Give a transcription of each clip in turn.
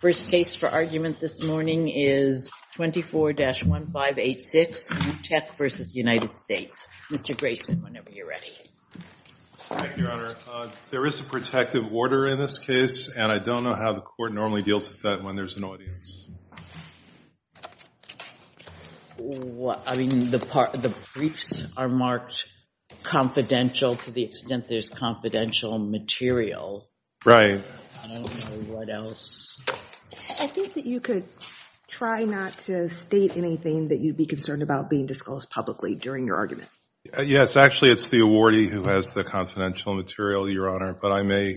First case for argument this morning is 24-1586, Utech v. United States. Mr. Grayson, whenever you're ready. Thank you, Your Honor. There is a protective order in this case, and I don't know how the court normally deals with that when there's an audience. I mean, the briefs are marked confidential to the extent there's confidential material. Right. I don't know what else. I think that you could try not to state anything that you'd be concerned about being discussed publicly during your argument. Yes, actually, it's the awardee who has the confidential material, Your Honor. But I may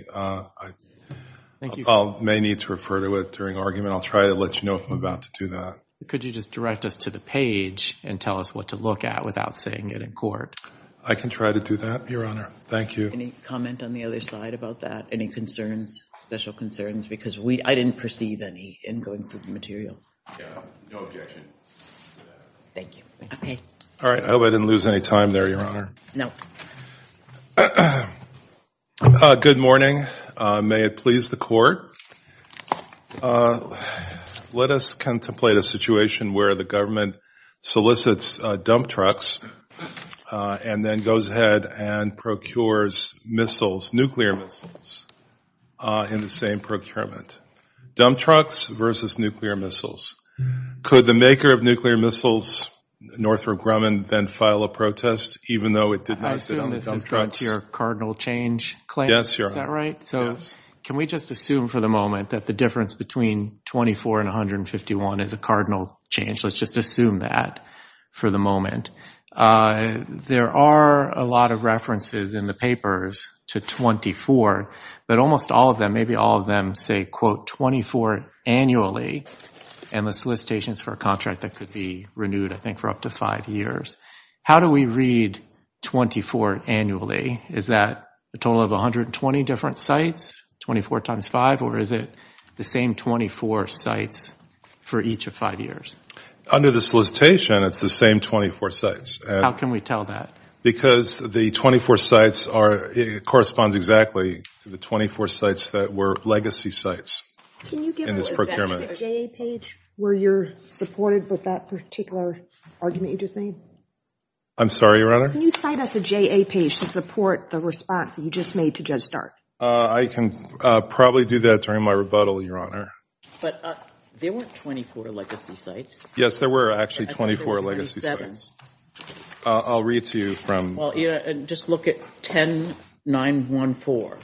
need to refer to it during argument. I'll try to let you know if I'm about to do that. Could you just direct us to the page and tell us what to look at without saying it in court? I can try to do that, Your Honor. Thank you. Any comment on the other side about that? Any concerns, special concerns? Because I didn't perceive any in going through the material. Yeah, no objection to that. Thank you. OK. All right, I hope I didn't lose any time there, Your Honor. No. Good morning. May it please the court. Let us contemplate a situation where the government solicits dump trucks and then goes ahead and procures missiles, nuclear missiles, in the same procurement. Dump trucks versus nuclear missiles. Could the maker of nuclear missiles, Northrop Grumman, then file a protest, even though it did not sit on the dump I assume this has gone to your cardinal change claim. Yes, Your Honor. Is that right? Yes. Can we just assume for the moment that the difference between 24 and 151 is a cardinal change? Let's just assume that for the moment. There are a lot of references in the papers to 24, but almost all of them, maybe all of them, say, quote, 24 annually. And the solicitation is for a contract that could be renewed, I think, for up to five years. How do we read 24 annually? Is that a total of 120 different sites? 24 times 5? Or is it the same 24 sites for each of five years? Under the solicitation, it's the same 24 sites. How can we tell that? Because the 24 sites corresponds exactly to the 24 sites that were legacy sites in this procurement. Can you give us a J.A. page where you're supported with that particular argument you just made? I'm sorry, Your Honor? Can you cite us a J.A. page to support the response that you just made to Judge Stark? I can probably do that during my rebuttal, Your Honor. But there weren't 24 legacy sites. Yes, there were, actually, 24 legacy sites. I'll read to you from. Well, just look at 10, 9, 1, 4.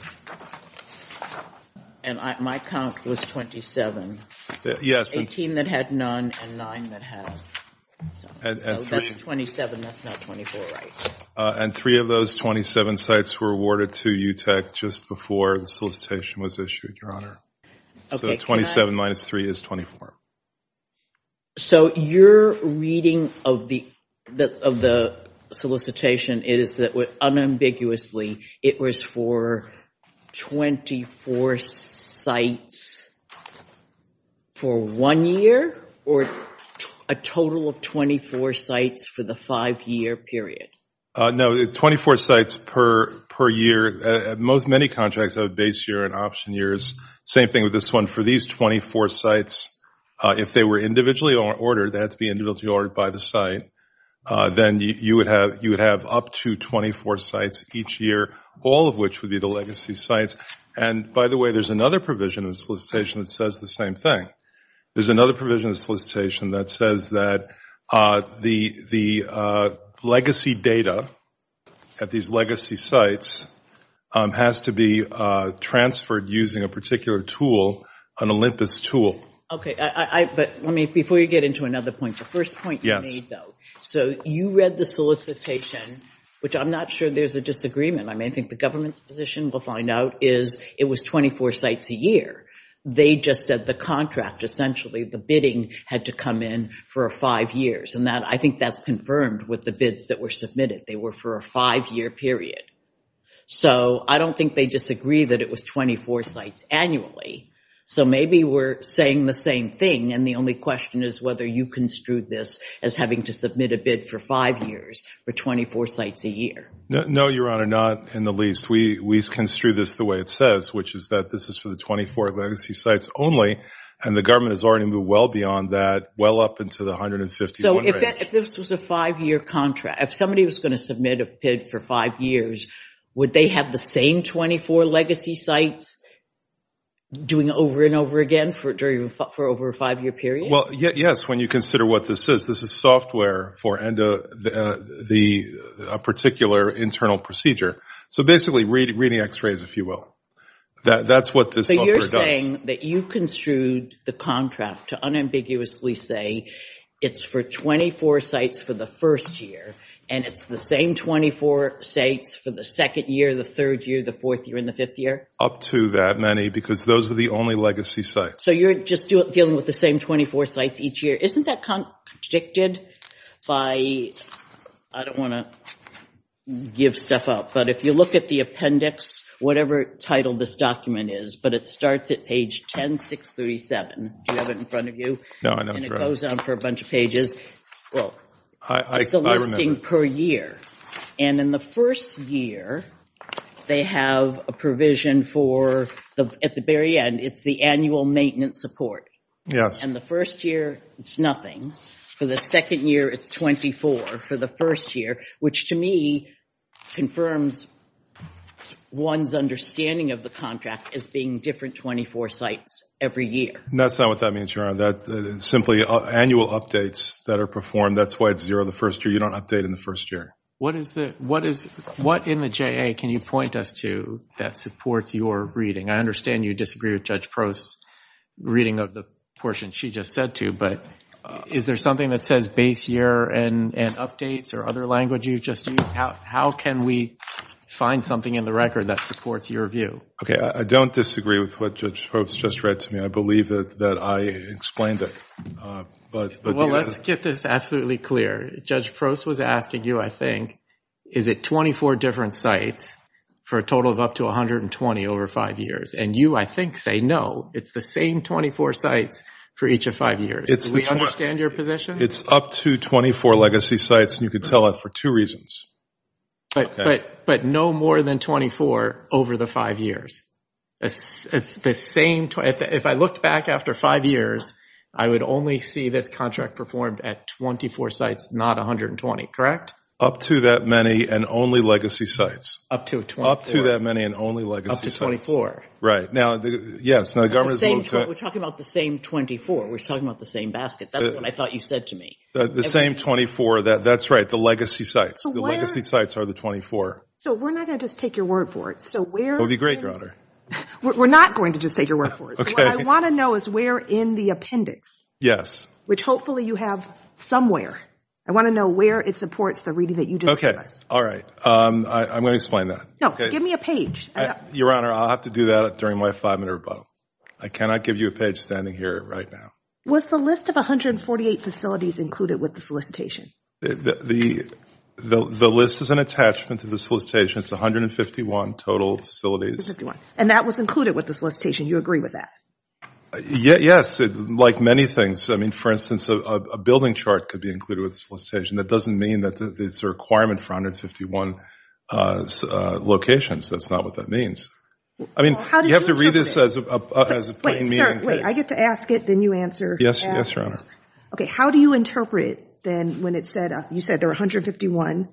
And my count was 27, 18 that had none, and nine that had. So that's 27, that's not 24, right? And three of those 27 sites were awarded to UTEC just before the solicitation was issued, Your Honor. So 27 minus three is 24. So your reading of the solicitation is that unambiguously, it was for 24 sites for one year, or a total of 24 sites for the five-year period? No, 24 sites per year. Most many contracts have a base year and option years. Same thing with this one. For these 24 sites, if they were individually ordered, they had to be individually ordered by the site, then you would have up to 24 sites each year, all of which would be the legacy sites. And by the way, there's another provision in the solicitation that says the same thing. There's another provision in the solicitation that says that the legacy data at these legacy sites has to be transferred using a particular tool, an Olympus tool. OK, but let me, before you get into another point, the first point you made, though, so you read the solicitation, which I'm not sure there's a disagreement. I mean, I think the government's position will find out is it was 24 sites a year. They just said the contract, essentially, the bidding had to come in for five years. And I think that's confirmed with the bids that were submitted. They were for a five-year period. So I don't think they disagree that it was 24 sites annually. So maybe we're saying the same thing, and the only question is whether you construed this as having to submit a bid for five years for 24 sites a year. No, Your Honor, not in the least. We construed this the way it says, which is that this is for the 24 legacy sites only, and the government has already moved well beyond that, well up into the 151 range. So if this was a five-year contract, if somebody was going to submit a bid for five years, would they have the same 24 legacy sites doing over and over again for over a five-year period? Well, yes, when you consider what this is. This is software for a particular internal procedure. So basically, reading x-rays, if you will. That's what this number does. So you're saying that you construed the contract to unambiguously say it's for 24 sites for the first year, and it's the same 24 sites for the second year, the third year, the fourth year, and the fifth year? Up to that, Manny, because those were the only legacy sites. So you're just dealing with the same 24 sites each year. Isn't that contradicted by... I don't want to give stuff up, but if you look at the appendix, whatever title this document is, but it starts at page 10-637. Do you have it in front of you? No, I don't, correct. And it goes on for a bunch of pages. Well, it's a listing per year. And in the first year, they have a provision for, at the very end, it's the annual maintenance support. And the first year, it's nothing. For the second year, it's 24 for the first year, which to me confirms one's understanding of the contract as being different 24 sites every year. That's not what that means, Your Honor. That's simply annual updates that are performed. That's why it's zero the first year. You don't update in the first year. What in the JA can you point us to that supports your reading? I understand you disagree with Judge Prost's reading of the portion she just said to, but is there something that says base year and updates or other language you just used? How can we find something in the record that supports your view? Okay, I don't disagree with what Judge Prost just read to me. I believe that I explained it. Well, let's get this absolutely clear. Judge Prost was asking you, I think, is it 24 different sites for a total of up to 120 over five years? And you, I think, say no. It's the same 24 sites for each of five years. Do we understand your position? It's up to 24 legacy sites, and you can tell that for two reasons. But no more than 24 over the five years. If I looked back after five years, I would only see this contract performed at 24 sites, not 120, correct? Up to that many and only legacy sites. Up to 24. Up to that many and only legacy sites. Up to 24. Right, now, yes. Now, the government is willing to- We're talking about the same 24. We're talking about the same basket. That's what I thought you said to me. The same 24, that's right, the legacy sites. The legacy sites are the 24. So we're not gonna just take your word for it. So where- It would be great, Your Honor. We're not going to just take your word for it. So what I wanna know is where in the appendix, which hopefully you have somewhere, I wanna know where it supports the reading that you just discussed. All right, I'm gonna explain that. No, give me a page. Your Honor, I'll have to do that during my five-minute rebuttal. I cannot give you a page standing here right now. Was the list of 148 facilities included with the solicitation? The list is an attachment to the solicitation. It's 151 total facilities. 151, and that was included with the solicitation. You agree with that? Yes, like many things. I mean, for instance, a building chart could be included with the solicitation. That doesn't mean that it's a requirement for 151 locations. That's not what that means. I mean, you have to read this as a plain meaning. Wait, I get to ask it, then you answer. Yes, Your Honor. Okay, how do you interpret, then, you said there were 151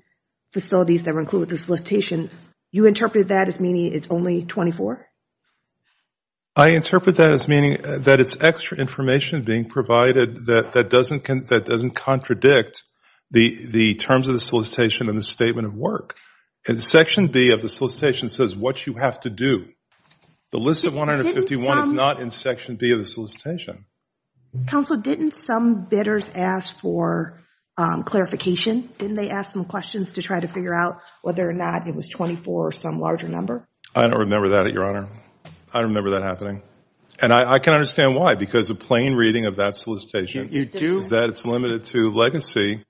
facilities that were included with the solicitation. You interpreted that as meaning it's only 24? I interpret that as meaning that it's extra information being provided that doesn't contradict the terms of the solicitation and the statement of work. In Section B of the solicitation, it says what you have to do. The list of 151 is not in Section B of the solicitation. Counsel, didn't some bidders ask for clarification? Didn't they ask some questions to try to figure out whether or not it was 24 or some larger number? I don't remember that, Your Honor. I don't remember that happening. And I can understand why, because a plain reading of that solicitation is that it's limited to legacy.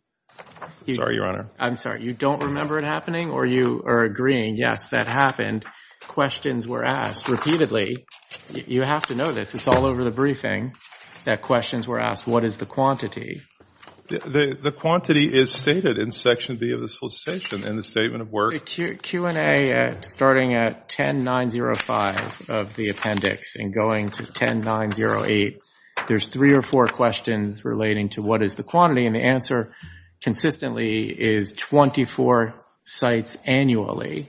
Sorry, Your Honor. I'm sorry, you don't remember it happening, or you are agreeing, yes, that happened, questions were asked repeatedly. You have to know this. It's all over the briefing that questions were asked, what is the quantity? The quantity is stated in Section B of the solicitation in the statement of work. Q&A starting at 10.905 of the appendix and going to 10.908, there's three or four questions relating to what is the quantity, and the answer consistently is 24 sites annually.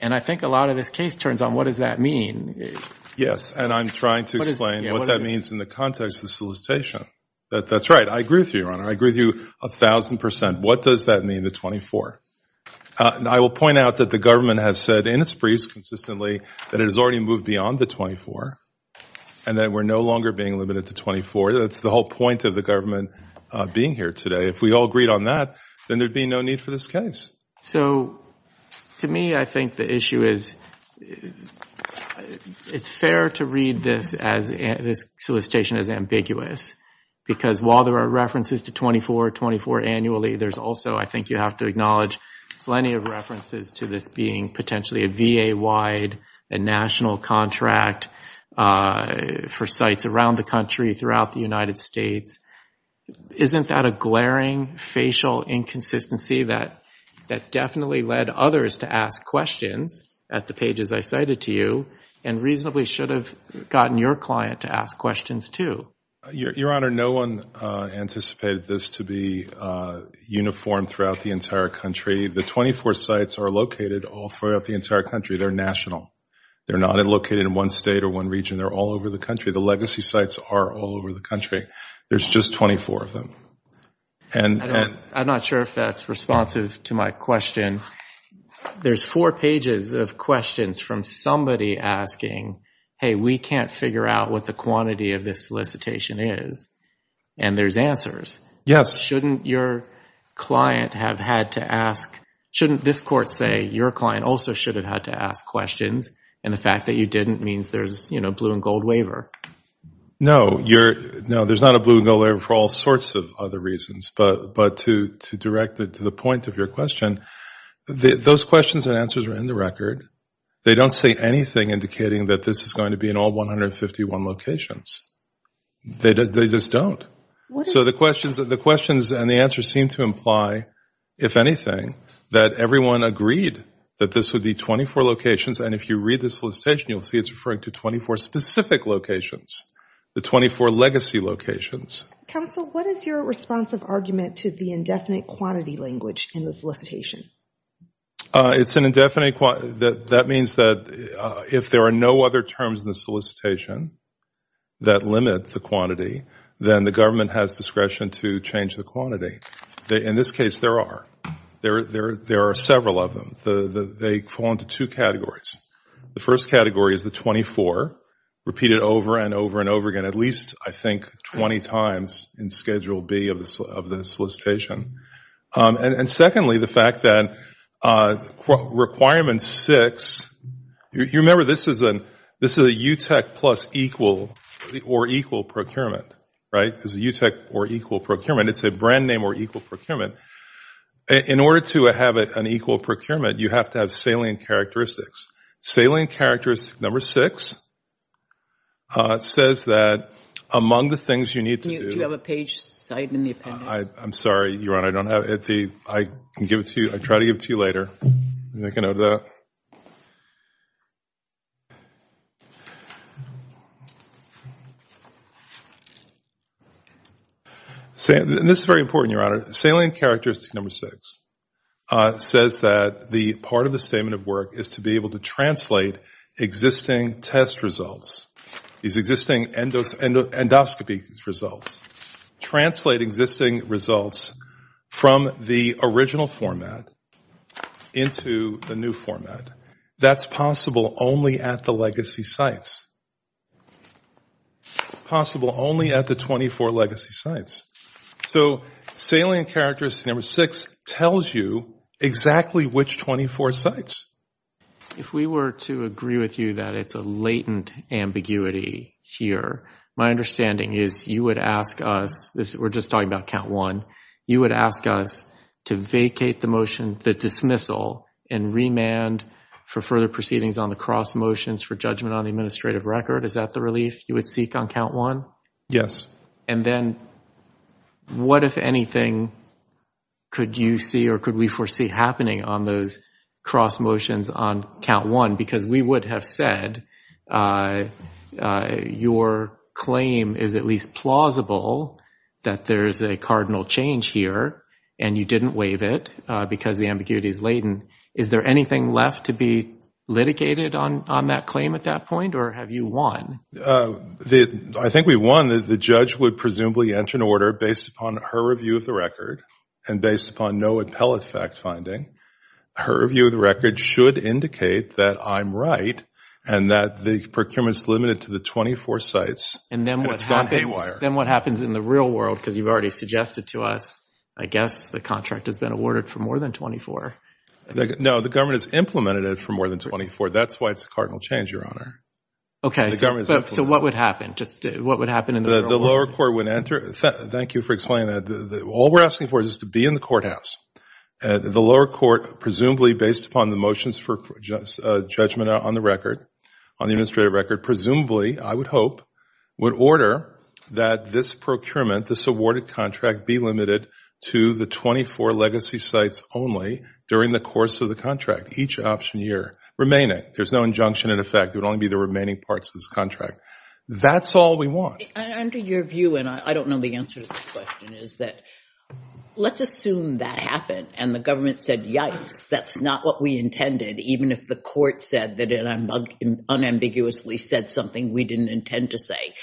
And I think a lot of this case turns on, what does that mean? Yes, and I'm trying to explain what that means in the context of the solicitation. That's right, I agree with you, Your Honor. I agree with you 1,000%. What does that mean, the 24? I will point out that the government has said in its briefs consistently that it has already moved beyond the 24, and that we're no longer being limited to 24. That's the whole point of the government being here today. If we all agreed on that, then there'd be no need for this case. So to me, I think the issue is, it's fair to read this solicitation as ambiguous, because while there are references to 24, 24 annually, there's also, I think you have to acknowledge, plenty of references to this being potentially a VA-wide, a national contract for sites around the country, throughout the United States. Isn't that a glaring facial inconsistency that definitely led others to ask questions at the pages I cited to you, and reasonably should have gotten your client to ask questions, too? Your Honor, no one anticipated this to be uniform throughout the entire country. The 24 sites are located all throughout the entire country. They're national. They're not located in one state or one region. They're all over the country. The legacy sites are all over the country. There's just 24 of them. I'm not sure if that's responsive to my question. There's four pages of questions from somebody asking, hey, we can't figure out what the quantity of this solicitation is, and there's answers. Yes. Shouldn't your client have had to ask, shouldn't this court say your client also should have had to ask questions, and the fact that you didn't means there's a blue and gold waiver? No, there's not a blue and gold waiver for all sorts of other reasons, but to direct it to the point of your question, those questions and answers are in the record. They don't say anything indicating that this is going to be in all 151 locations. They just don't. So the questions and the answers seem to imply, if anything, that everyone agreed that this would be 24 locations, and if you read the solicitation, you'll see it's referring to 24 specific locations, the 24 legacy locations. Counsel, what is your responsive argument to the indefinite quantity language in the solicitation? It's an indefinite quantity. That means that if there are no other terms in the solicitation that limit the quantity, then the government has discretion to change the quantity. In this case, there are. There are several of them. They fall into two categories. The first category is the 24, repeated over and over and over again, at least, I think, 20 times in Schedule B of the solicitation, and secondly, the fact that requirement six, you remember this is a UTEC plus equal, or equal procurement, right? It's a UTEC or equal procurement. It's a brand name or equal procurement. In order to have an equal procurement, you have to have salient characteristics. Salient characteristic number six says that among the things you need to do. Do you have a page cite in the appendix? I'm sorry, Your Honor, I don't have it. I can give it to you. I'll try to give it to you later. They can have that. This is very important, Your Honor. Salient characteristic number six says that the part of the statement of work is to be able to translate existing test results, these existing endoscopy results. Translate existing results from the original format into the new format. That's possible only at the legacy sites. Possible only at the 24 legacy sites. So salient characteristic number six tells you exactly which 24 sites. If we were to agree with you that it's a latent ambiguity here, my understanding is you would ask us, we're just talking about count one, you would ask us to vacate the motion, the dismissal, and remand for further proceedings on the cross motions for judgment on the administrative record. Is that the relief you would seek on count one? Yes. And then what, if anything, could you see or could we foresee happening on those cross motions on count one? Because we would have said your claim is at least plausible that there is a cardinal change here and you didn't waive it because the ambiguity is latent. Is there anything left to be litigated on that claim at that point or have you won? I think we've won. The judge would presumably enter an order based upon her review of the record and based upon no appellate fact finding. Her review of the record should indicate that I'm right and that the procurement's limited to the 24 sites. And then what happens in the real world, because you've already suggested to us, I guess the contract has been awarded for more than 24. No, the government has implemented it for more than 24. That's why it's a cardinal change, Your Honor. Okay, so what would happen in the real world? The lower court would enter, thank you for explaining that. All we're asking for is to be in the courthouse. The lower court, presumably based upon the motions for judgment on the record, on the administrative record, presumably, I would hope, would order that this procurement, this awarded contract, be limited to the 24 legacy sites only during the course of the contract, each option year remaining. There's no injunction in effect. It would only be the remaining parts of this contract. That's all we want. Under your view, and I don't know the answer to this question, is that let's assume that happened and the government said, yikes, that's not what we intended, even if the court said that it unambiguously said something we didn't intend to say.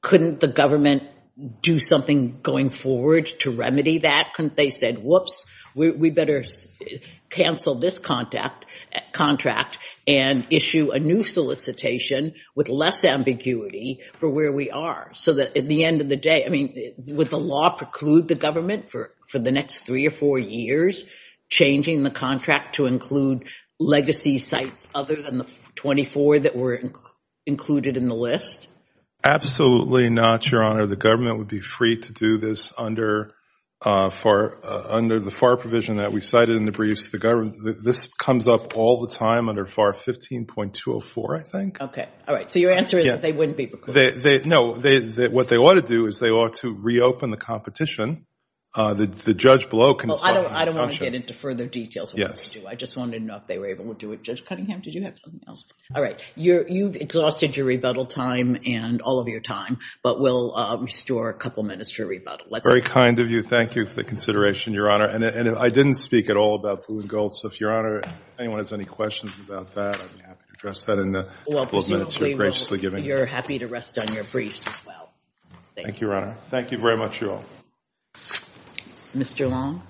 Couldn't the government do something going forward to remedy that? Couldn't they say, whoops, we better cancel this contract and issue a new solicitation with less ambiguity for where we are, so that at the end of the day, I mean, would the law preclude the government for the next three or four years changing the contract to include legacy sites other than the 24 that were included in the list? Absolutely not, Your Honor. The government would be free to do this under the FAR provision that we cited in the briefs. The government, this comes up all the time under FAR 15.204, I think. Okay, all right. So your answer is that they wouldn't be precluded. No, what they ought to do is they ought to reopen the competition. The judge below can decide on that option. I don't want to get into further details of what they do. Yes. I just wanted to know if they were able to do it. Judge Cunningham, did you have something else? All right, you've exhausted your rebuttal time and all of your time, but we'll restore a couple minutes for rebuttal. Very kind of you. Thank you for the consideration, Your Honor. And I didn't speak at all about Blue and Gold, so if Your Honor, if anyone has any questions about that, I'm happy to address that in a couple of minutes. You're graciously giving it to me. You're happy to rest on your briefs as well. Thank you. Thank you, Your Honor. Thank you very much, you all. Mr. Long.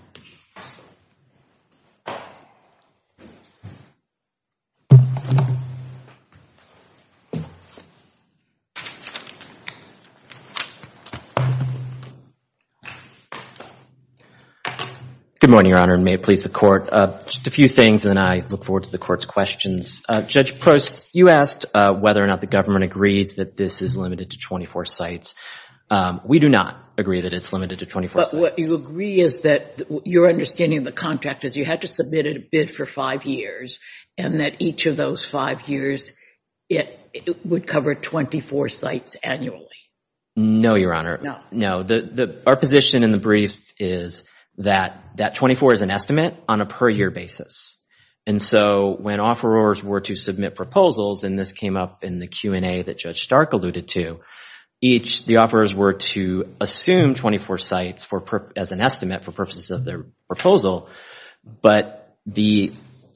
Good morning, Your Honor, and may it please the Court. Just a few things, and then I look forward to the Court's questions. Judge Post, you asked whether or not the government agrees that this is limited to 24 sites. We do not agree that it's limited to 24 sites. But what you agree is that, your understanding of the contract is you had to submit a bid for five years, and that each of those five years, it would cover 24 sites annually. No, Your Honor. No. No, our position in the brief is that that 24 is an estimate on a per-year basis. And so when offerors were to submit proposals, and this came up in the Q&A that Judge Stark alluded to, each, the offerors were to assume 24 sites as an estimate for purposes of their proposal, but the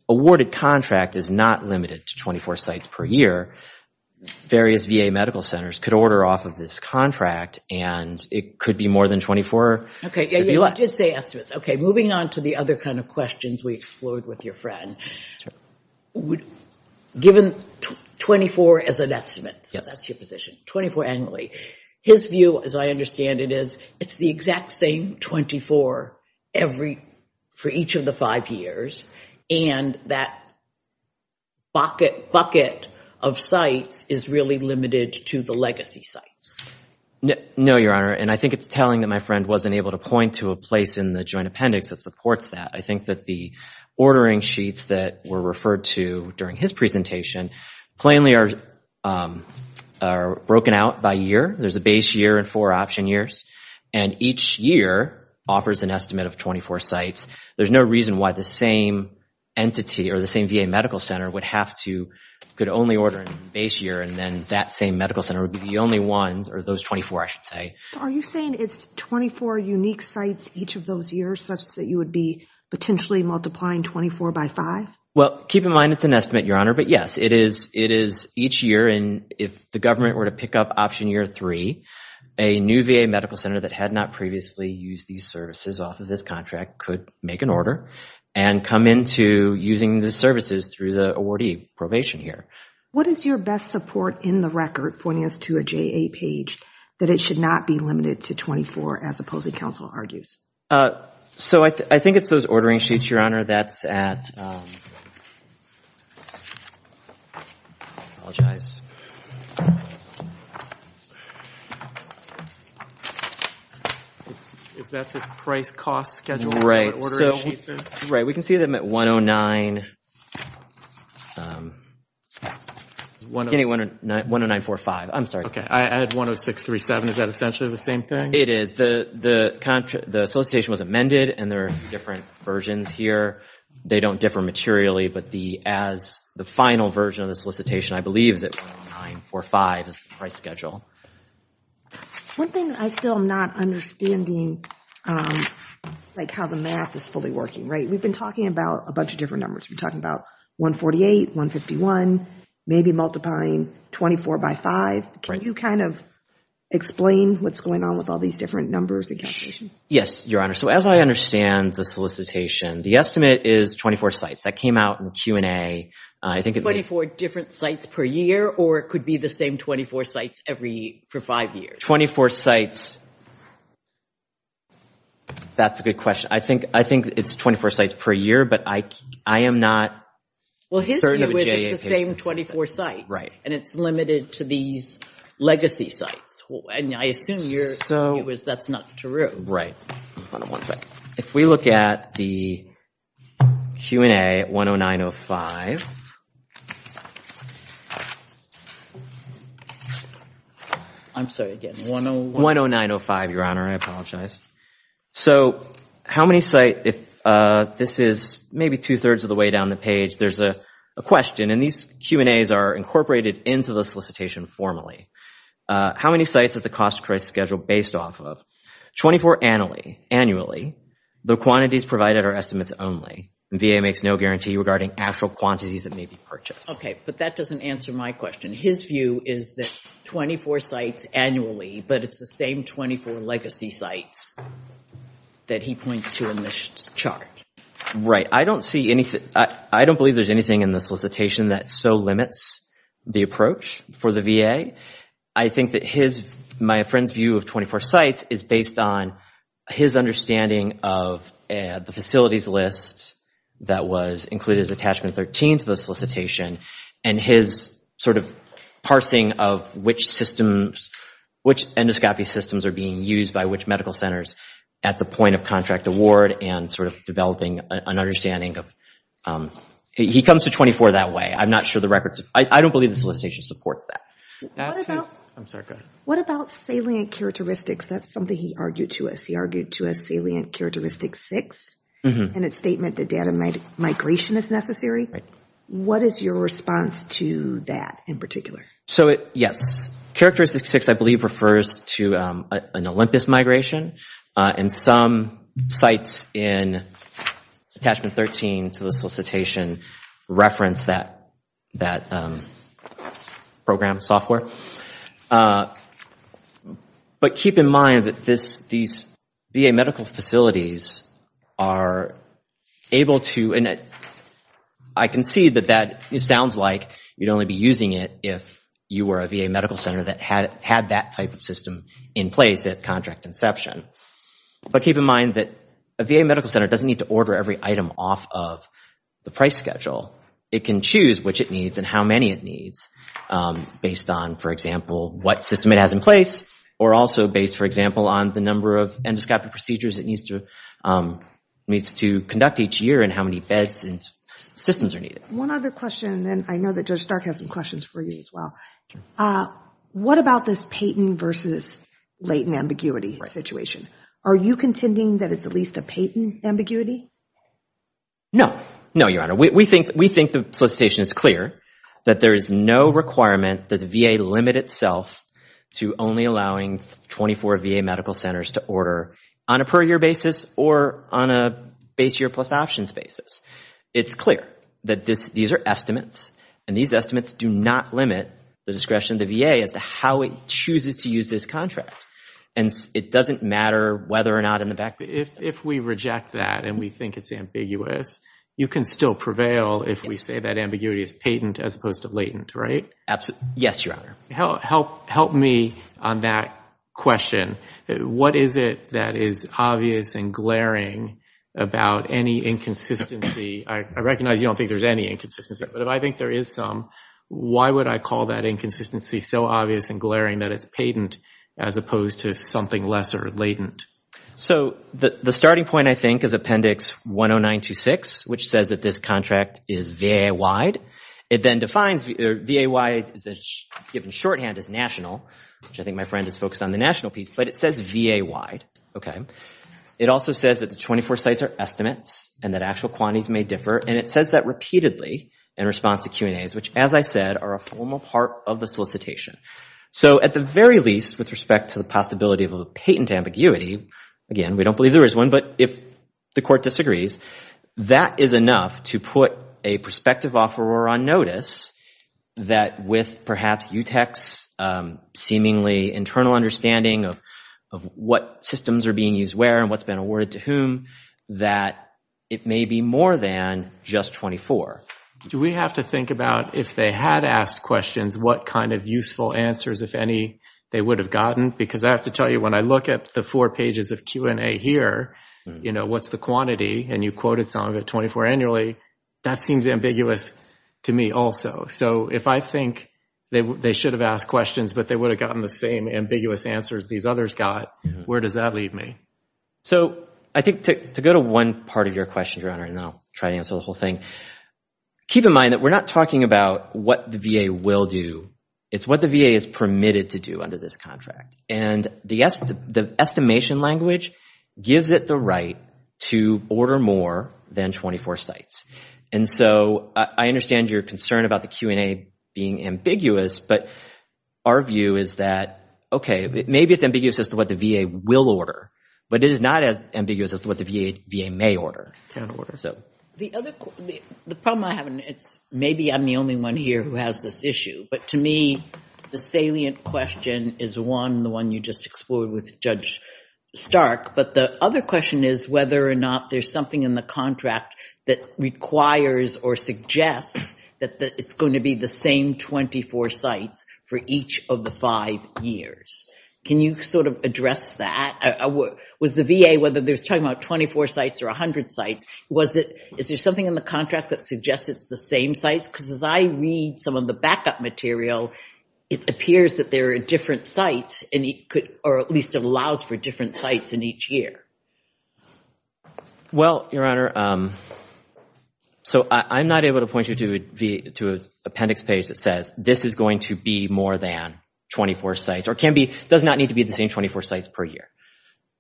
awarded contract is not limited to 24 sites per year. Various VA medical centers could order off of this contract, and it could be more than 24, it could be less. Okay, you did say estimates. Okay, moving on to the other kind of questions we explored with your friend. Given 24 as an estimate, so that's your position, 24 annually, his view, as I understand it, is it's the exact same 24 for each of the five years, and that bucket of sites is really limited to the legacy sites. No, Your Honor, and I think it's telling that my friend wasn't able to point to a place in the joint appendix that supports that. I think that the ordering sheets that were referred to during his presentation plainly are broken out by year. There's a base year and four option years, and each year offers an estimate of 24 sites. There's no reason why the same entity or the same VA medical center would have to, could only order a base year, and then that same medical center would be the only one, or those 24, I should say. Are you saying it's 24 unique sites each of those years, such that you would be potentially multiplying 24 by five? Well, keep in mind it's an estimate, Your Honor, but yes, it is each year, and if the government were to pick up option year three, a new VA medical center that had not previously used these services off of this contract could make an order and come into using the services through the awardee probation year. What is your best support in the record pointing us to a JA page that it should not be limited to 24, as opposing counsel argues? So I think it's those ordering sheets, Your Honor, that's at, I apologize. Is that the price cost schedule? Right, so, right, we can see them at 109, 10945, I'm sorry. Okay, I had 10637, is that essentially the same thing? It is, the solicitation was amended, and there are different versions here. They don't differ materially, but the final version of the solicitation, I believe, is at 10945, is the price schedule. One thing I still am not understanding, like how the math is fully working, right? We've been talking about a bunch of different numbers. We've been talking about 148, 151, maybe multiplying 24 by five. Can you kind of explain what's going on with all these different numbers and calculations? Yes, Your Honor, so as I understand the solicitation, the estimate is 24 sites. That came out in Q&A, I think it was. 24 different sites per year, or it could be the same 24 sites every, for five years? 24 sites, that's a good question. I think it's 24 sites per year, but I am not certain of a J-8. Well, his view is it's the same 24 sites, and it's limited to these legacy sites, and I assume your view is that's not true. Hold on one second. If we look at the Q&A 10905. I'm sorry, again, 10905, Your Honor, I apologize. So how many sites, if this is maybe two-thirds of the way down the page, there's a question, and these Q&As are incorporated into the solicitation formally. How many sites is the cost price schedule based off of? 24 annually, the quantities provided are estimates only. VA makes no guarantee regarding actual quantities that may be purchased. Okay, but that doesn't answer my question. His view is that 24 sites annually, but it's the same 24 legacy sites that he points to in this chart. Right, I don't believe there's anything in the solicitation that so limits the approach for the VA. I think that my friend's view of 24 sites is based on his understanding of the facilities list that was included as attachment 13 to the solicitation, and his sort of parsing of which systems, which endoscopy systems are being used by which medical centers at the point of contract award, and sort of developing an understanding of, he comes to 24 that way. I'm not sure the records, I don't believe the solicitation supports that. That's his, I'm sorry, go ahead. What about salient characteristics that's something he argued to us. He argued to us salient characteristics six, and it's statement that data migration is necessary. What is your response to that in particular? So yes, characteristics six I believe refers to an Olympus migration, and some sites in attachment 13 to the solicitation reference that program software. But keep in mind that these VA medical facilities are able to, and I can see that that sounds like you'd only be using it if you were a VA medical center that had that type of system in place at contract inception. But keep in mind that a VA medical center doesn't need to order every item off of the price schedule. It can choose which it needs and how many it needs based on, for example, what system it has in place, or also based, for example, on the number of endoscopic procedures it needs to conduct each year and how many beds and systems are needed. One other question, and I know that Judge Stark has some questions for you as well. What about this Payton versus Layton ambiguity situation? Are you contending that it's at least a Payton ambiguity? No, no, Your Honor. We think the solicitation is clear that there is no requirement that the VA limit itself to only allowing 24 VA medical centers to order on a per year basis or on a base year plus options basis. It's clear that these are estimates, and these estimates do not limit the discretion of the VA as to how it chooses to use this contract. And it doesn't matter whether or not in the back. If we reject that and we think it's ambiguous, you can still prevail if we say that ambiguity is Payton as opposed to Layton, right? Absolutely, yes, Your Honor. Help me on that question. What is it that is obvious and glaring about any inconsistency? I recognize you don't think there's any inconsistency, but if I think there is some, why would I call that inconsistency so obvious and glaring that it's Payton as opposed to something lesser, Layton? So the starting point, I think, is Appendix 10926, which says that this contract is VA-wide. It then defines VA-wide, given shorthand, as national, which I think my friend is focused on the national piece, but it says VA-wide, okay? It also says that the 24 sites are estimates and that actual quantities may differ, and it says that repeatedly in response to Q&As, which, as I said, are a formal part of the solicitation. So at the very least, with respect to the possibility of a Payton ambiguity, again, we don't believe there is one, but if the court disagrees, that is enough to put a prospective offeror on notice that with perhaps UTEC's seemingly internal understanding of what systems are being used where and what's been awarded to whom, that it may be more than just 24. Do we have to think about, if they had asked questions, what kind of useful answers, if any, they would have gotten? Because I have to tell you, when I look at the four pages of Q&A here, what's the quantity, and you quoted some of it 24 annually, that seems ambiguous to me also. So if I think they should have asked questions, but they would have gotten the same ambiguous answers these others got, where does that leave me? So I think to go to one part of your question, Your Honor, and then I'll try to answer the whole thing, keep in mind that we're not talking about what the VA will do. It's what the VA is permitted to do under this contract. And the estimation language gives it the right to order more than 24 sites. And so I understand your concern about the Q&A being ambiguous, but our view is that, okay, maybe it's ambiguous as to what the VA will order, but it is not as ambiguous as to what the VA may order. The problem I have, maybe I'm the only one here who has this issue, but to me, the salient question is, the one you just explored with Judge Stark, but the other question is whether or not there's something in the contract that requires or suggests that it's going to be the same 24 sites for each of the five years. Can you sort of address that? Was the VA, whether they're talking about 24 sites or 100 sites, is there something in the contract that suggests it's the same sites? Because as I read some of the backup material, it appears that there are different sites, or at least allows for different sites in each year. Well, Your Honor, so I'm not able to point you to an appendix page that says this is going to be more than 24 sites, or does not need to be the same 24 sites per year.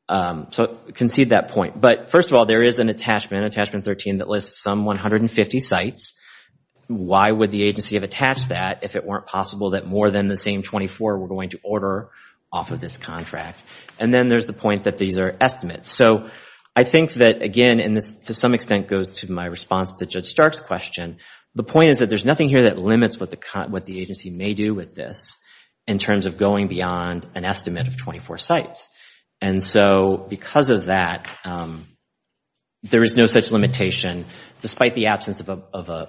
So concede that point. But first of all, there is an attachment, Attachment 13, that lists some 150 sites. Why would the agency have attached that if it weren't possible that more than the same 24 were going to order off of this contract? And then there's the point that these are estimates. So I think that, again, and this to some extent goes to my response to Judge Stark's question, the point is that there's nothing here that limits what the agency may do with this in terms of going beyond an estimate of 24 sites. And so because of that, there is no such limitation, despite the absence of an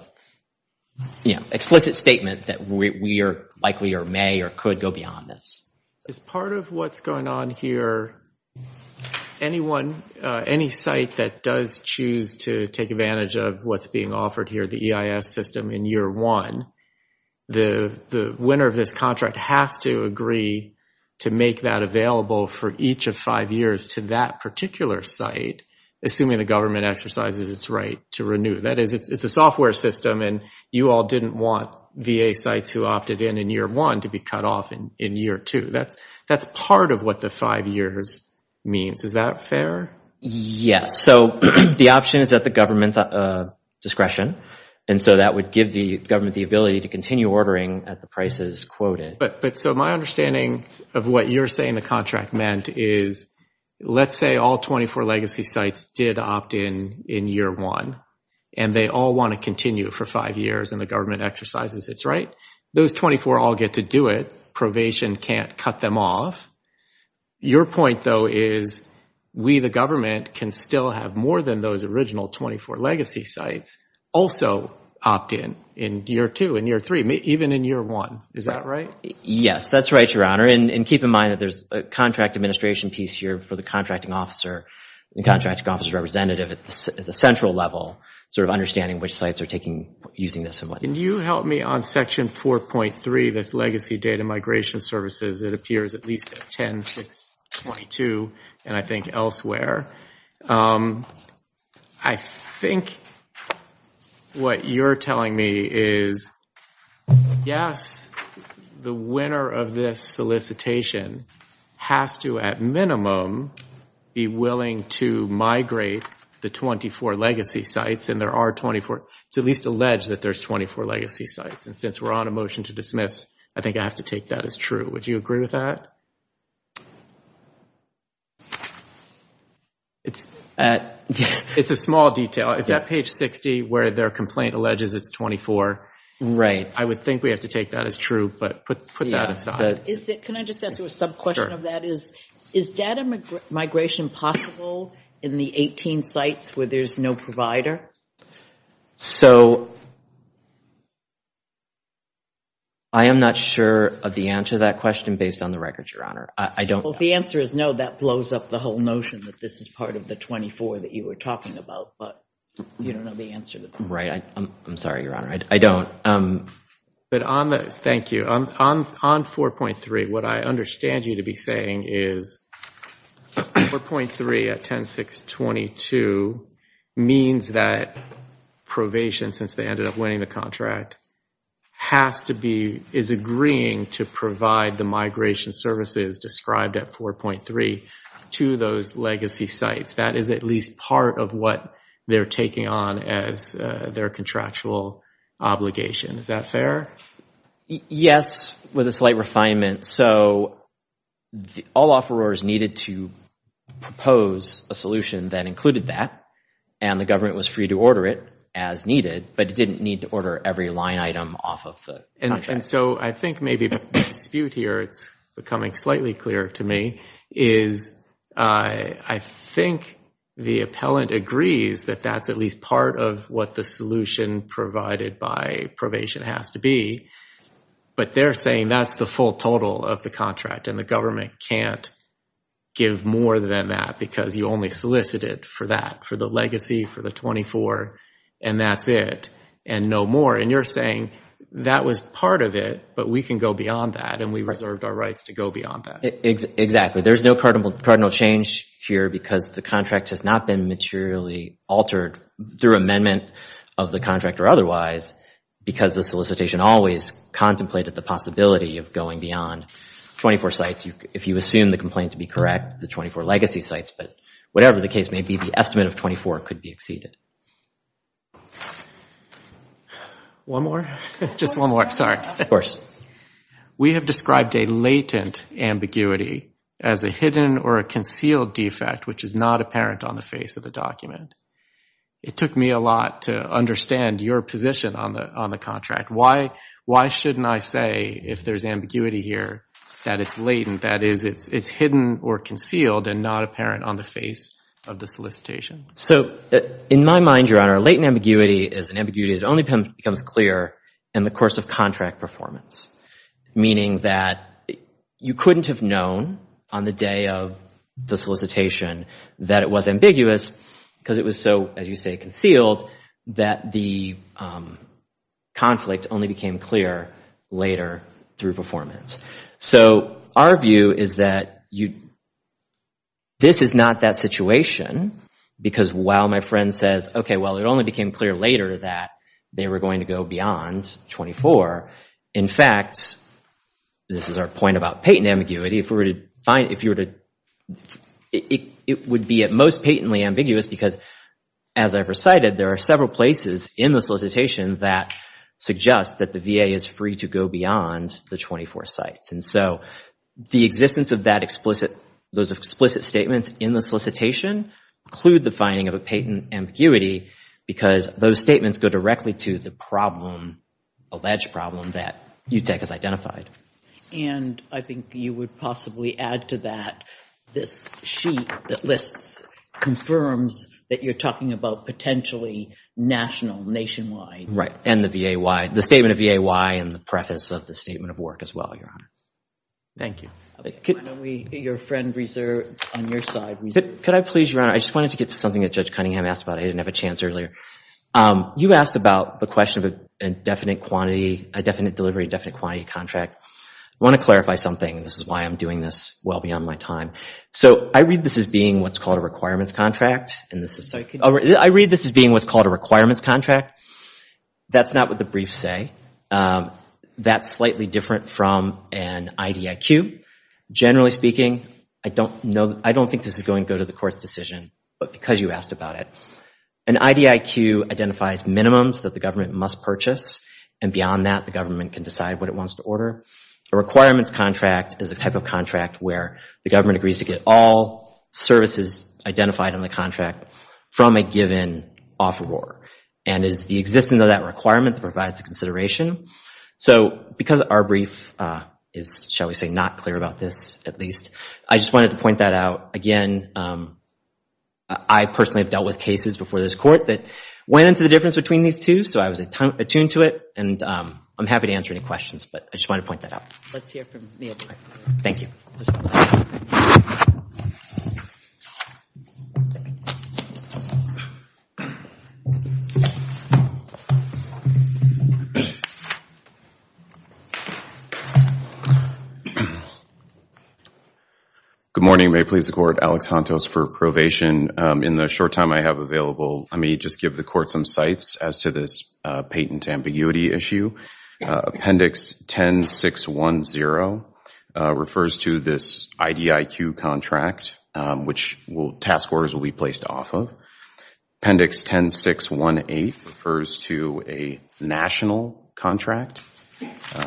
explicit statement that we are likely or may or could go beyond this. As part of what's going on here, anyone, any site that does choose to take advantage of what's being offered here, the EIS system in year one, the winner of this contract has to agree to make that available for each of five years to that particular site, assuming the government exercises its right to renew. That is, it's a software system and you all didn't want VA sites who opted in in year one to be cut off in year two. That's part of what the five years means. Is that fair? Yes. So the option is at the government's discretion. And so that would give the government the ability to continue ordering at the prices quoted. But so my understanding of what you're saying the contract meant is, let's say all 24 legacy sites did opt in in year one and they all want to continue for five years and the government exercises its right. Those 24 all get to do it. Probation can't cut them off. Your point though is we, the government, can still have more than those original 24 legacy sites also opt in in year two and year three, even in year one. Is that right? Yes, that's right, Your Honor. And keep in mind that there's a contract administration piece here for the contracting officer and contracting officer's representative at the central level, sort of understanding which sites are using this and what. Can you help me on section 4.3, this legacy data migration services that appears at least at 10, 6, 22, and I think elsewhere. I think what you're telling me is, yes, the winner of this solicitation has to, at minimum, be willing to migrate the 24 legacy sites and there are 24. It's at least alleged that there's 24 legacy sites and since we're on a motion to dismiss, I think I have to take that as true. Would you agree with that? It's a small detail. It's at page 60 where their complaint alleges it's 24. Right. I would think we have to take that as true, but put that aside. Can I just ask you a sub-question of that? Is data migration possible in the 18 sites where there's no provider? I am not sure of the answer to that question based on the records, Your Honor. Well, if the answer is no, that blows up the whole notion that this is part of the 24 that you were talking about, but you don't know the answer to that. Right. I'm sorry, Your Honor. I don't. Thank you. On 4.3, what I understand you to be saying is 4.3 at 10-622 means that probation, since they ended up winning the contract, is agreeing to provide the migration services described at 4.3 to those legacy sites. That is at least part of what they're taking on as their contractual obligation. Is that fair? Yes, with a slight refinement. So all offerors needed to propose a solution that included that, and the government was free to order it as needed, but it didn't need to order every line item off of the contract. And so I think maybe the dispute here, it's becoming slightly clearer to me, is I think the appellant agrees that that's at least part of what the solution provided by probation has to be, but they're saying that's the full total of the contract, and the government can't give more than that because you only solicited for that, for the legacy, for the 24, and that's it, and no more. And you're saying that was part of it, but we can go beyond that, and we reserved our rights to go beyond that. Exactly. There's no cardinal change here because the contract has not been materially altered through amendment of the contract or otherwise because the solicitation always contemplated the possibility of going beyond 24 sites. If you assume the complaint to be correct, the 24 legacy sites, but whatever the case may be, the estimate of 24 could be exceeded. One more? Just one more, sorry. Of course. We have described a latent ambiguity as a hidden or a concealed defect which is not apparent on the face of the document. It took me a lot to understand your position on the contract. Why shouldn't I say if there's ambiguity here that it's latent, that is it's hidden or concealed and not apparent on the face of the solicitation? So in my mind, Your Honor, latent ambiguity is an ambiguity that only becomes clear in the course of contract performance, meaning that you couldn't have known on the day of the solicitation that it was ambiguous because it was so, as you say, concealed that the conflict only became clear later through performance. So our view is that this is not that situation because while my friend says, okay, well, it only became clear later that they were going to go beyond 24, in fact, this is our point about patent ambiguity, if you were to, it would be at most patently ambiguous because as I've recited, there are several places in the solicitation that suggest that the VA is free to go beyond the 24 sites. And so the existence of those explicit statements in the solicitation include the finding of a patent ambiguity because those statements go directly to the problem, alleged problem that UTEC has identified. And I think you would possibly add to that this sheet that lists, confirms that you're talking about potentially national, nationwide. Right, and the VA why, the statement of VA why and the preface of the statement of work as well, Your Honor. Thank you. Why don't we, your friend on your side. Could I please, Your Honor, I just wanted to get to something that Judge Cunningham asked about. I didn't have a chance earlier. You asked about the question of a definite quantity, a definite delivery, a definite quantity contract. I want to clarify something. This is why I'm doing this well beyond my time. So I read this as being what's called a requirements contract. And this is, I read this as being what's called a requirements contract. That's not what the briefs say. That's slightly different from an IDIQ. Generally speaking, I don't think this is going to go to the court's decision, but because you asked about it. An IDIQ identifies minimums that the government must purchase. And beyond that, the government can decide what it wants to order. A requirements contract is a type of contract where the government agrees to get all services identified in the contract from a given offeror. And it is the existence of that requirement that provides the consideration. So because our brief is, shall we say, not clear about this, at least, I just wanted to point that out. Again, I personally have dealt with cases before this court that went into the difference between these two, so I was attuned to it. And I'm happy to answer any questions, but I just wanted to point that out. Let's hear from Neil. Thank you. Good morning. May it please the court, Alex Hantos for probation. In the short time I have available, let me just give the court some sights as to this patent ambiguity issue. Appendix 10610 refers to this IDIQ contract, which task orders will be placed off of. Appendix 10618 refers to a national contract.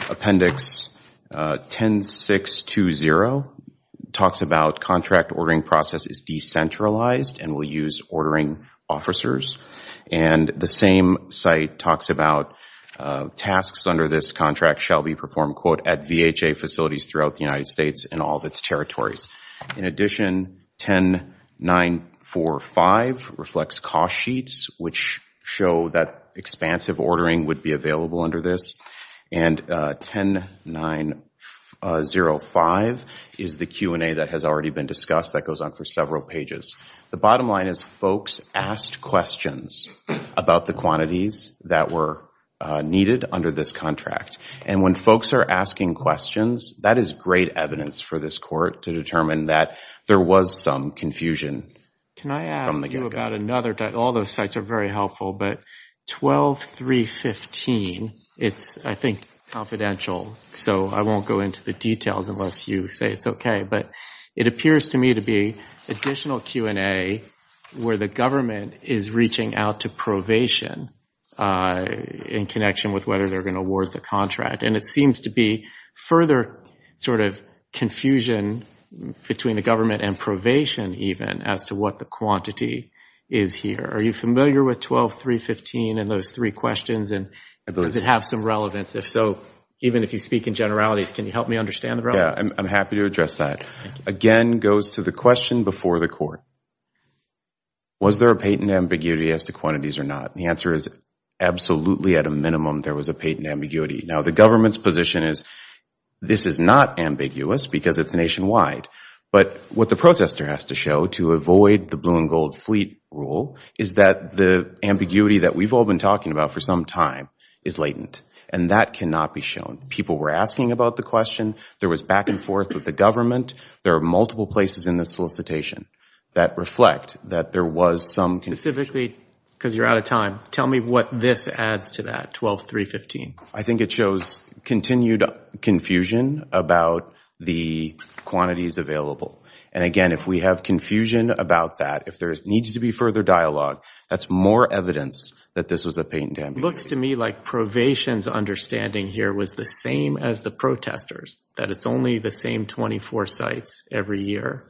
Appendix 10620 talks about contract ordering process is decentralized and will use ordering officers. And the same site talks about tasks under this contract shall be performed, quote, at VHA facilities throughout the United States and all of its territories. In addition, 10945 reflects cost sheets, which show that expansive ordering would be available under this. And 10905 is the Q&A that has already been discussed. That goes on for several pages. The bottom line is folks asked questions about the quantities that were needed under this contract. And when folks are asking questions, that is great evidence for this court to determine that there was some confusion. Can I ask you about another, all those sites are very helpful, but 12315, it's, I think, confidential. So I won't go into the details unless you say it's okay. But it appears to me to be additional Q&A where the government is reaching out to probation in connection with whether they're gonna award the contract. And it seems to be further sort of confusion between the government and probation, even, as to what the quantity is here. Are you familiar with 12315 and those three questions? And does it have some relevance? If so, even if you speak in generalities, can you help me understand the relevance? I'm happy to address that. Again, goes to the question before the court. Was there a patent ambiguity as to quantities or not? The answer is absolutely, at a minimum, there was a patent ambiguity. Now, the government's position is this is not ambiguous because it's nationwide. But what the protester has to show to avoid the blue and gold fleet rule is that the ambiguity that we've all been talking about for some time is latent, and that cannot be shown. People were asking about the question. There was back and forth with the government. There are multiple places in this solicitation that reflect that there was some confusion. Specifically, because you're out of time, tell me what this adds to that, 12315. I think it shows continued confusion about the quantities available. And again, if we have confusion about that, if there needs to be further dialogue, that's more evidence that this was a patent ambiguity. Looks to me like probation's understanding here was the same as the protester's, that it's only the same 24 sites every year.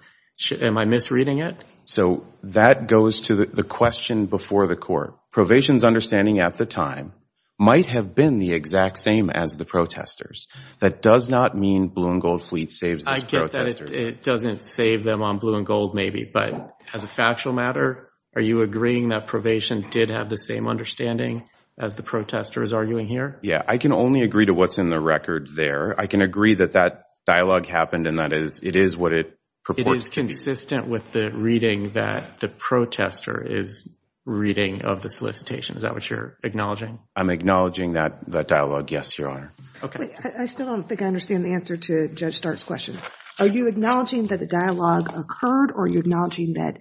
Am I misreading it? So that goes to the question before the court. Probation's understanding at the time might have been the exact same as the protester's. That does not mean blue and gold fleet saves this protester. I get that it doesn't save them on blue and gold, maybe. But as a factual matter, are you agreeing that probation did have the same understanding as the protester is arguing here? Yeah, I can only agree to what's in the record there. I can agree that that dialogue happened, and that it is what it purports to be. It is consistent with the reading that the protester is reading of the solicitation. Is that what you're acknowledging? I'm acknowledging that dialogue, yes, Your Honor. OK. I still don't think I understand the answer to Judge Start's question. Are you acknowledging that the dialogue occurred, or are you acknowledging that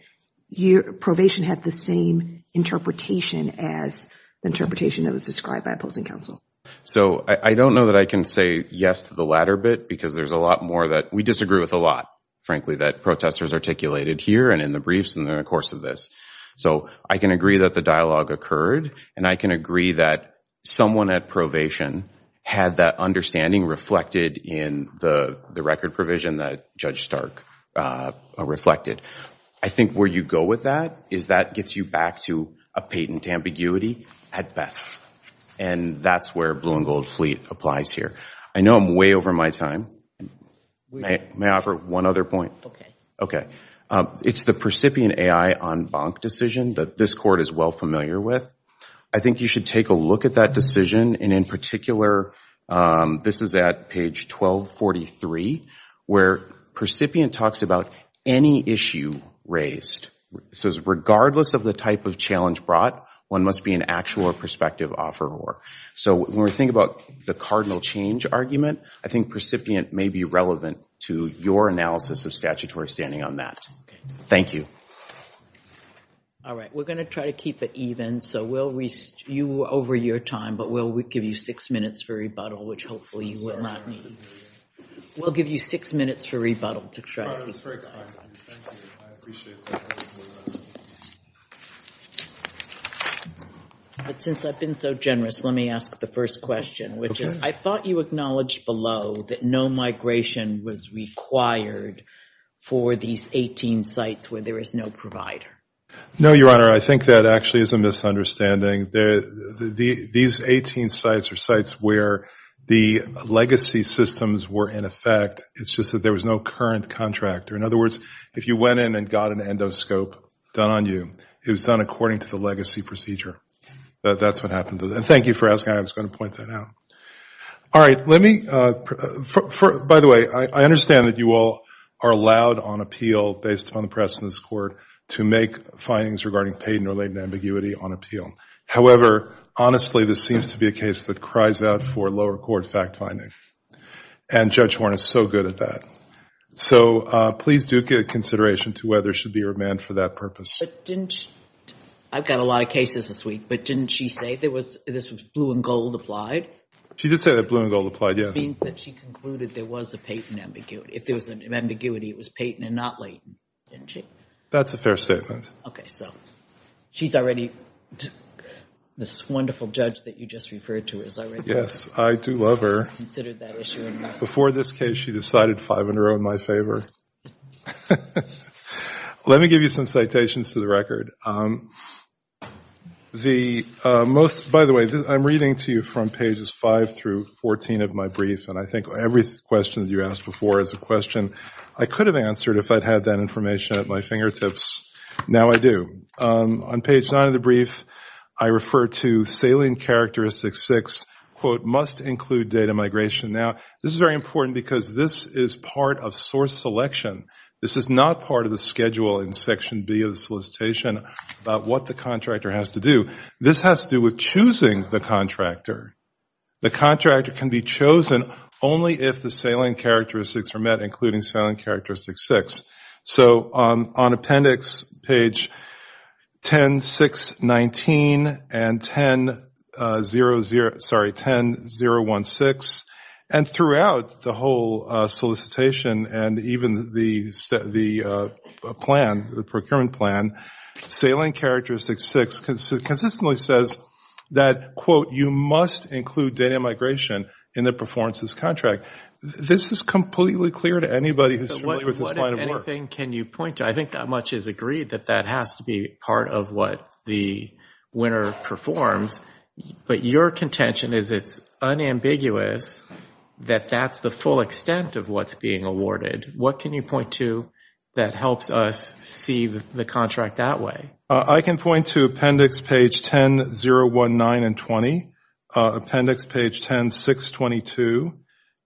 probation had the same interpretation as the interpretation that was described by opposing counsel? So I don't know that I can say yes to the latter bit, because there's a lot more that we disagree with a lot, frankly, that protesters articulated here and in the briefs and in the course of this. So I can agree that the dialogue occurred, and I can agree that someone at probation had that understanding reflected in the record provision that Judge Stark reflected. I think where you go with that is that gets you back to a patent ambiguity at best. And that's where blue and gold fleet applies here. I know I'm way over my time. May I offer one other point? OK. OK. It's the percipient AI en banc decision that this court is well familiar with. I think you should take a look at that decision. And in particular, this is at page 1243, where percipient talks about any issue raised. It says, regardless of the type of challenge brought, one must be an actual or prospective offeror. So when we think about the cardinal change argument, I think percipient may be relevant to your analysis of statutory standing on that. Thank you. All right. We're going to try to keep it even. So we'll rest you over your time, but we'll give you six minutes for rebuttal, which hopefully you will not need. We'll give you six minutes for rebuttal to try to fix that. All right. That's very kind. Thank you. I appreciate that. But since I've been so generous, let me ask the first question, which is, I thought you acknowledged below that no migration was required for these 18 sites where there is no provider. No, Your Honor. I think that actually is a misunderstanding. These 18 sites are sites where the legacy systems were in effect. It's just that there was no current contractor. In other words, if you went in and got an endoscope done on you, it was done according to the legacy procedure. That's what happened. And thank you for asking. I was going to point that out. All right. By the way, I understand that you all are allowed on appeal, based upon the precedence of this court, to make findings regarding patent-related ambiguity on appeal. However, honestly, this seems to be a case that cries out for lower court fact-finding. And Judge Horne is so good at that. So please do get consideration to whether she'll be remanded for that purpose. I've got a lot of cases this week. But didn't she say this was blue and gold applied? She did say that blue and gold applied, yes. That means that she concluded there was a patent ambiguity. If there was an ambiguity, it was patent and not latent, didn't she? That's a fair statement. OK, so she's already, this wonderful judge that you just referred to is already considered that issue. Before this case, she decided five in a row in my favor. Let me give you some citations to the record. By the way, I'm reading to you from pages 5 through 14 of my brief. And I think every question that you asked before is a question I could have answered if I'd had that information at my fingertips. Now I do. On page 9 of the brief, I refer to salient characteristics 6, quote, must include data migration. Now this is very important because this is part of source selection. This is not part of the schedule in section B of the solicitation about what the contractor has to do. This has to do with choosing the contractor. The contractor can be chosen only if the salient characteristics are met, including salient characteristic 6. So on appendix page 10.6.19 and 10.0.0, sorry, 10.0.1.6, and throughout the whole solicitation, and even the plan, the procurement plan, salient characteristics 6 consistently says that, quote, you must include data migration in the performances contract. This is completely clear to anybody who's familiar with this line of work. What, if anything, can you point to? I think that much is agreed, that that has to be part of what the winner performs. But your contention is it's unambiguous that that's the full extent of what's being awarded. What can you point to that helps us see the contract that way? I can point to appendix page 10.0.1.9 and 20, appendix page 10.6.22,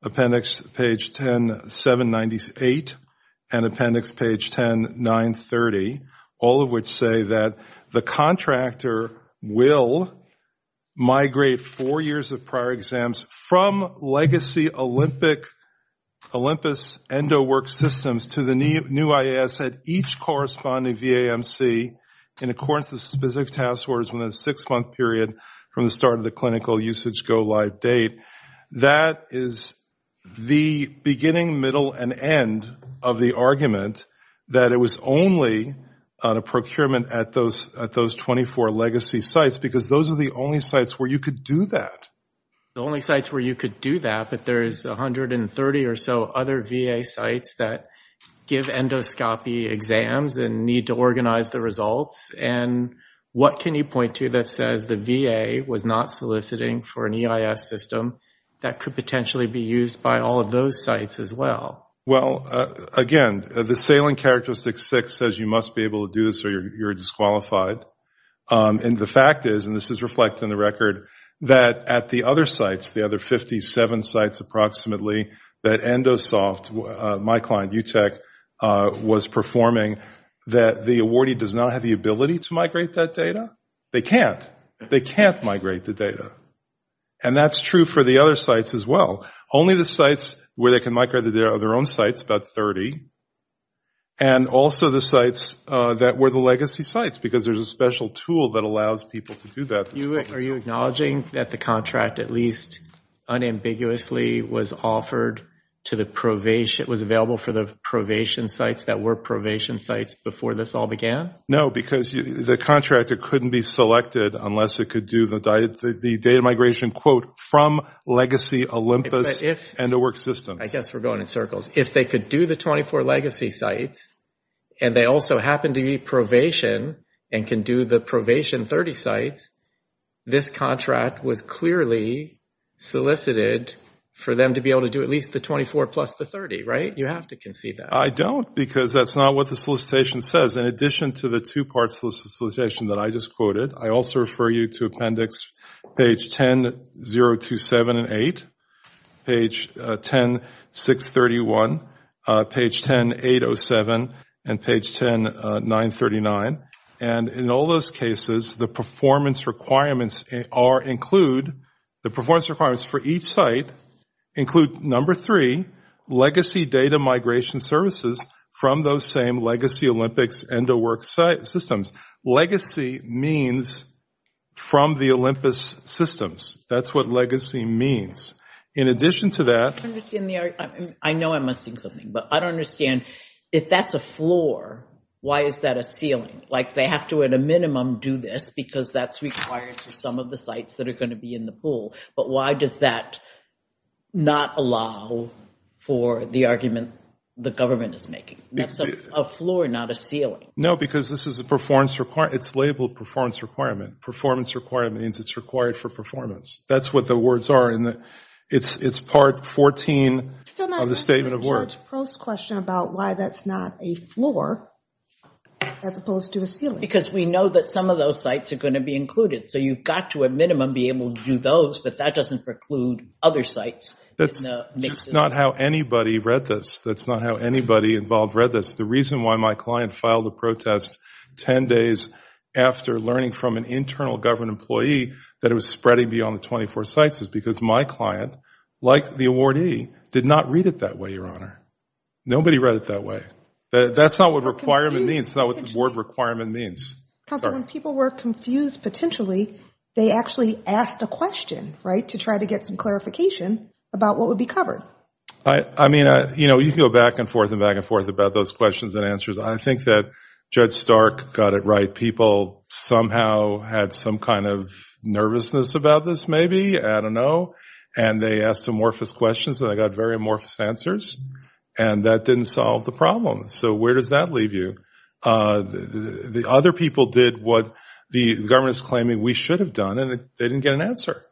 appendix page 10.7.98, and appendix page 10.9.30, all of which say that the contractor will migrate four years of prior exams from legacy Olympus EndoWorks systems to the new IAS at each corresponding VAMC in accordance with specific task orders within a six-month period from the start of the clinical usage go-live date. That is the beginning, middle, and end of the argument that it was only a procurement at those 24 legacy sites, because those are the only sites where you could do that. The only sites where you could do that, but there is 130 or so other VA sites that give endoscopy exams and need to organize the results. And what can you point to that says the VA was not soliciting for an EIS system that could potentially be used by all of those sites as well? Well, again, the salient characteristic six says you must be able to do this or you're disqualified. And the fact is, and this is reflected in the record, that at the other sites, the other 57 sites approximately, that EndoSoft, my client, UTech, was performing, that the awardee does not have the ability to migrate that data. They can't. They can't migrate the data. And that's true for the other sites as well. Only the sites where they can migrate the data are their own sites, about 30. And also the sites that were the legacy sites, because there's a special tool that allows people to do that. Are you acknowledging that the contract at least unambiguously was offered to the probation, was available for the probation sites that were probation sites before this all began? No, because the contractor couldn't be selected unless it could do the data migration, quote, from legacy Olympus EndoWorks systems. I guess we're going in circles. If they could do the 24 legacy sites, and they also happen to be probation, and can do the probation 30 sites, this contract was clearly solicited for them to be able to do at least the 24 plus the 30, right? You have to concede that. I don't, because that's not what the solicitation says. In addition to the two-part solicitation that I just quoted, I also refer you to Appendix page 10.027 and eight, page 10.631, page 10.807, and page 10.939. And in all those cases, the performance requirements are include, the performance requirements for each site include number three, legacy data migration services from those same legacy Olympics EndoWorks systems. Legacy means from the Olympus systems. That's what legacy means. In addition to that- I don't understand the argument. I know I'm missing something, but I don't understand if that's a floor, why is that a ceiling? Like they have to at a minimum do this because that's required for some of the sites that are gonna be in the pool. But why does that not allow for the argument the government is making? That's a floor, not a ceiling. No, because this is a performance requirement. It's labeled performance requirement. Performance requirement means it's required for performance. That's what the words are in the, it's part 14 of the statement of work. I'm still not getting the charge post question about why that's not a floor, as opposed to a ceiling. Because we know that some of those sites are gonna be included. So you've got to a minimum be able to do those, but that doesn't preclude other sites. That's not how anybody read this. That's not how anybody involved read this. The reason why my client filed a protest 10 days after learning from an internal government employee that it was spreading beyond the 24 sites is because my client, like the awardee, did not read it that way, Your Honor. Nobody read it that way. That's not what requirement means. That's not what the word requirement means. Council, when people were confused potentially, they actually asked a question, right, to try to get some clarification about what would be covered. I mean, you can go back and forth and back and forth about those questions and answers. I think that Judge Stark got it right. People somehow had some kind of nervousness about this, maybe, I don't know, and they asked amorphous questions and they got very amorphous answers, and that didn't solve the problem. So where does that leave you? The other people did what the government's claiming we should have done, and they didn't get an answer.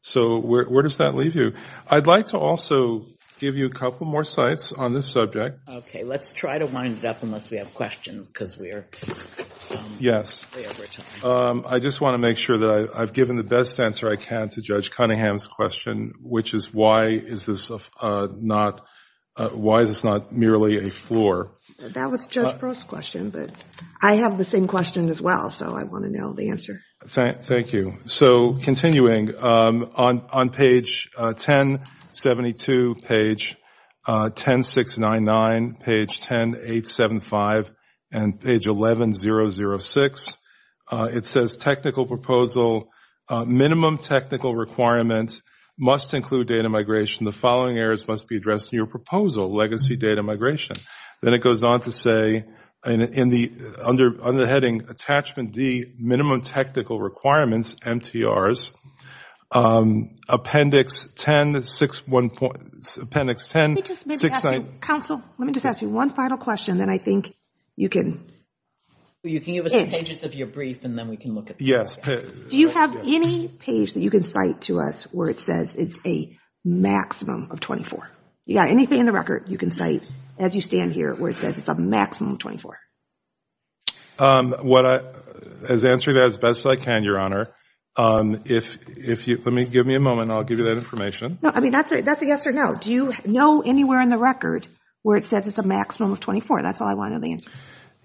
So where does that leave you? I'd like to also give you a couple more sites on this subject. Okay, let's try to wind it up unless we have questions because we're way over time. Yes, I just want to make sure that I've given the best answer I can to Judge Cunningham's question, which is why is this not merely a floor? That was Judge Prost's question, but I have the same question as well, so I want to know the answer. Thank you. So continuing, on page 1072, page 10699, page 10875, and page 11006, it says, technical proposal, minimum technical requirement must include data migration. The following errors must be addressed in your proposal, legacy data migration. Then it goes on to say, under the heading, attachment D, minimum technical requirements, MTRs, appendix 10, six, one, appendix 10, six, nine. Counsel, let me just ask you one final question that I think you can. Well, you can give us the pages of your brief and then we can look at them. Yes. Do you have any page that you can cite to us where it says it's a maximum of 24? You got anything in the record you can cite as you stand here where it says it's a maximum of 24? What I, as answering that as best I can, Your Honor, if you, let me, give me a moment and I'll give you that information. No, I mean, that's a yes or no. Do you know anywhere in the record where it says it's a maximum of 24? That's all I wanted the answer.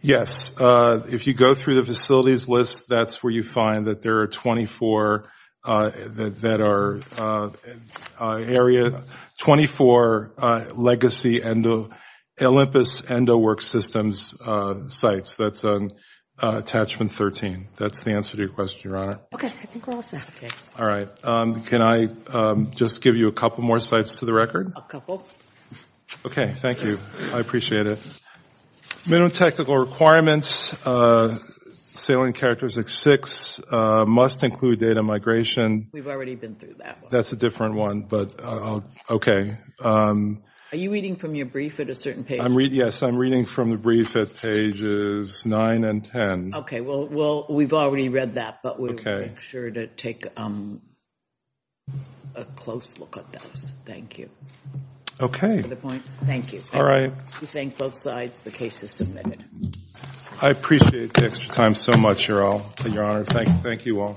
Yes. If you go through the facilities list, that's where you find that there are 24 that are area, 24 legacy Olympus Endowork Systems sites. That's on attachment 13. That's the answer to your question, Your Honor. Okay, I think we're all set. All right, can I just give you a couple more sites to the record? Okay, thank you. I appreciate it. Minimum technical requirements, salient characteristics six, must include data migration. We've already been through that one. That's a different one, but okay. Are you reading from your brief at a certain page? Yes, I'm reading from the brief at pages nine and 10. Okay, well, we've already read that, but we will make sure to take a close look at those. Thank you. Okay. Other points? Thank you. We thank both sides. The case is submitted. I appreciate the extra time so much, Your Honor. Thank you all.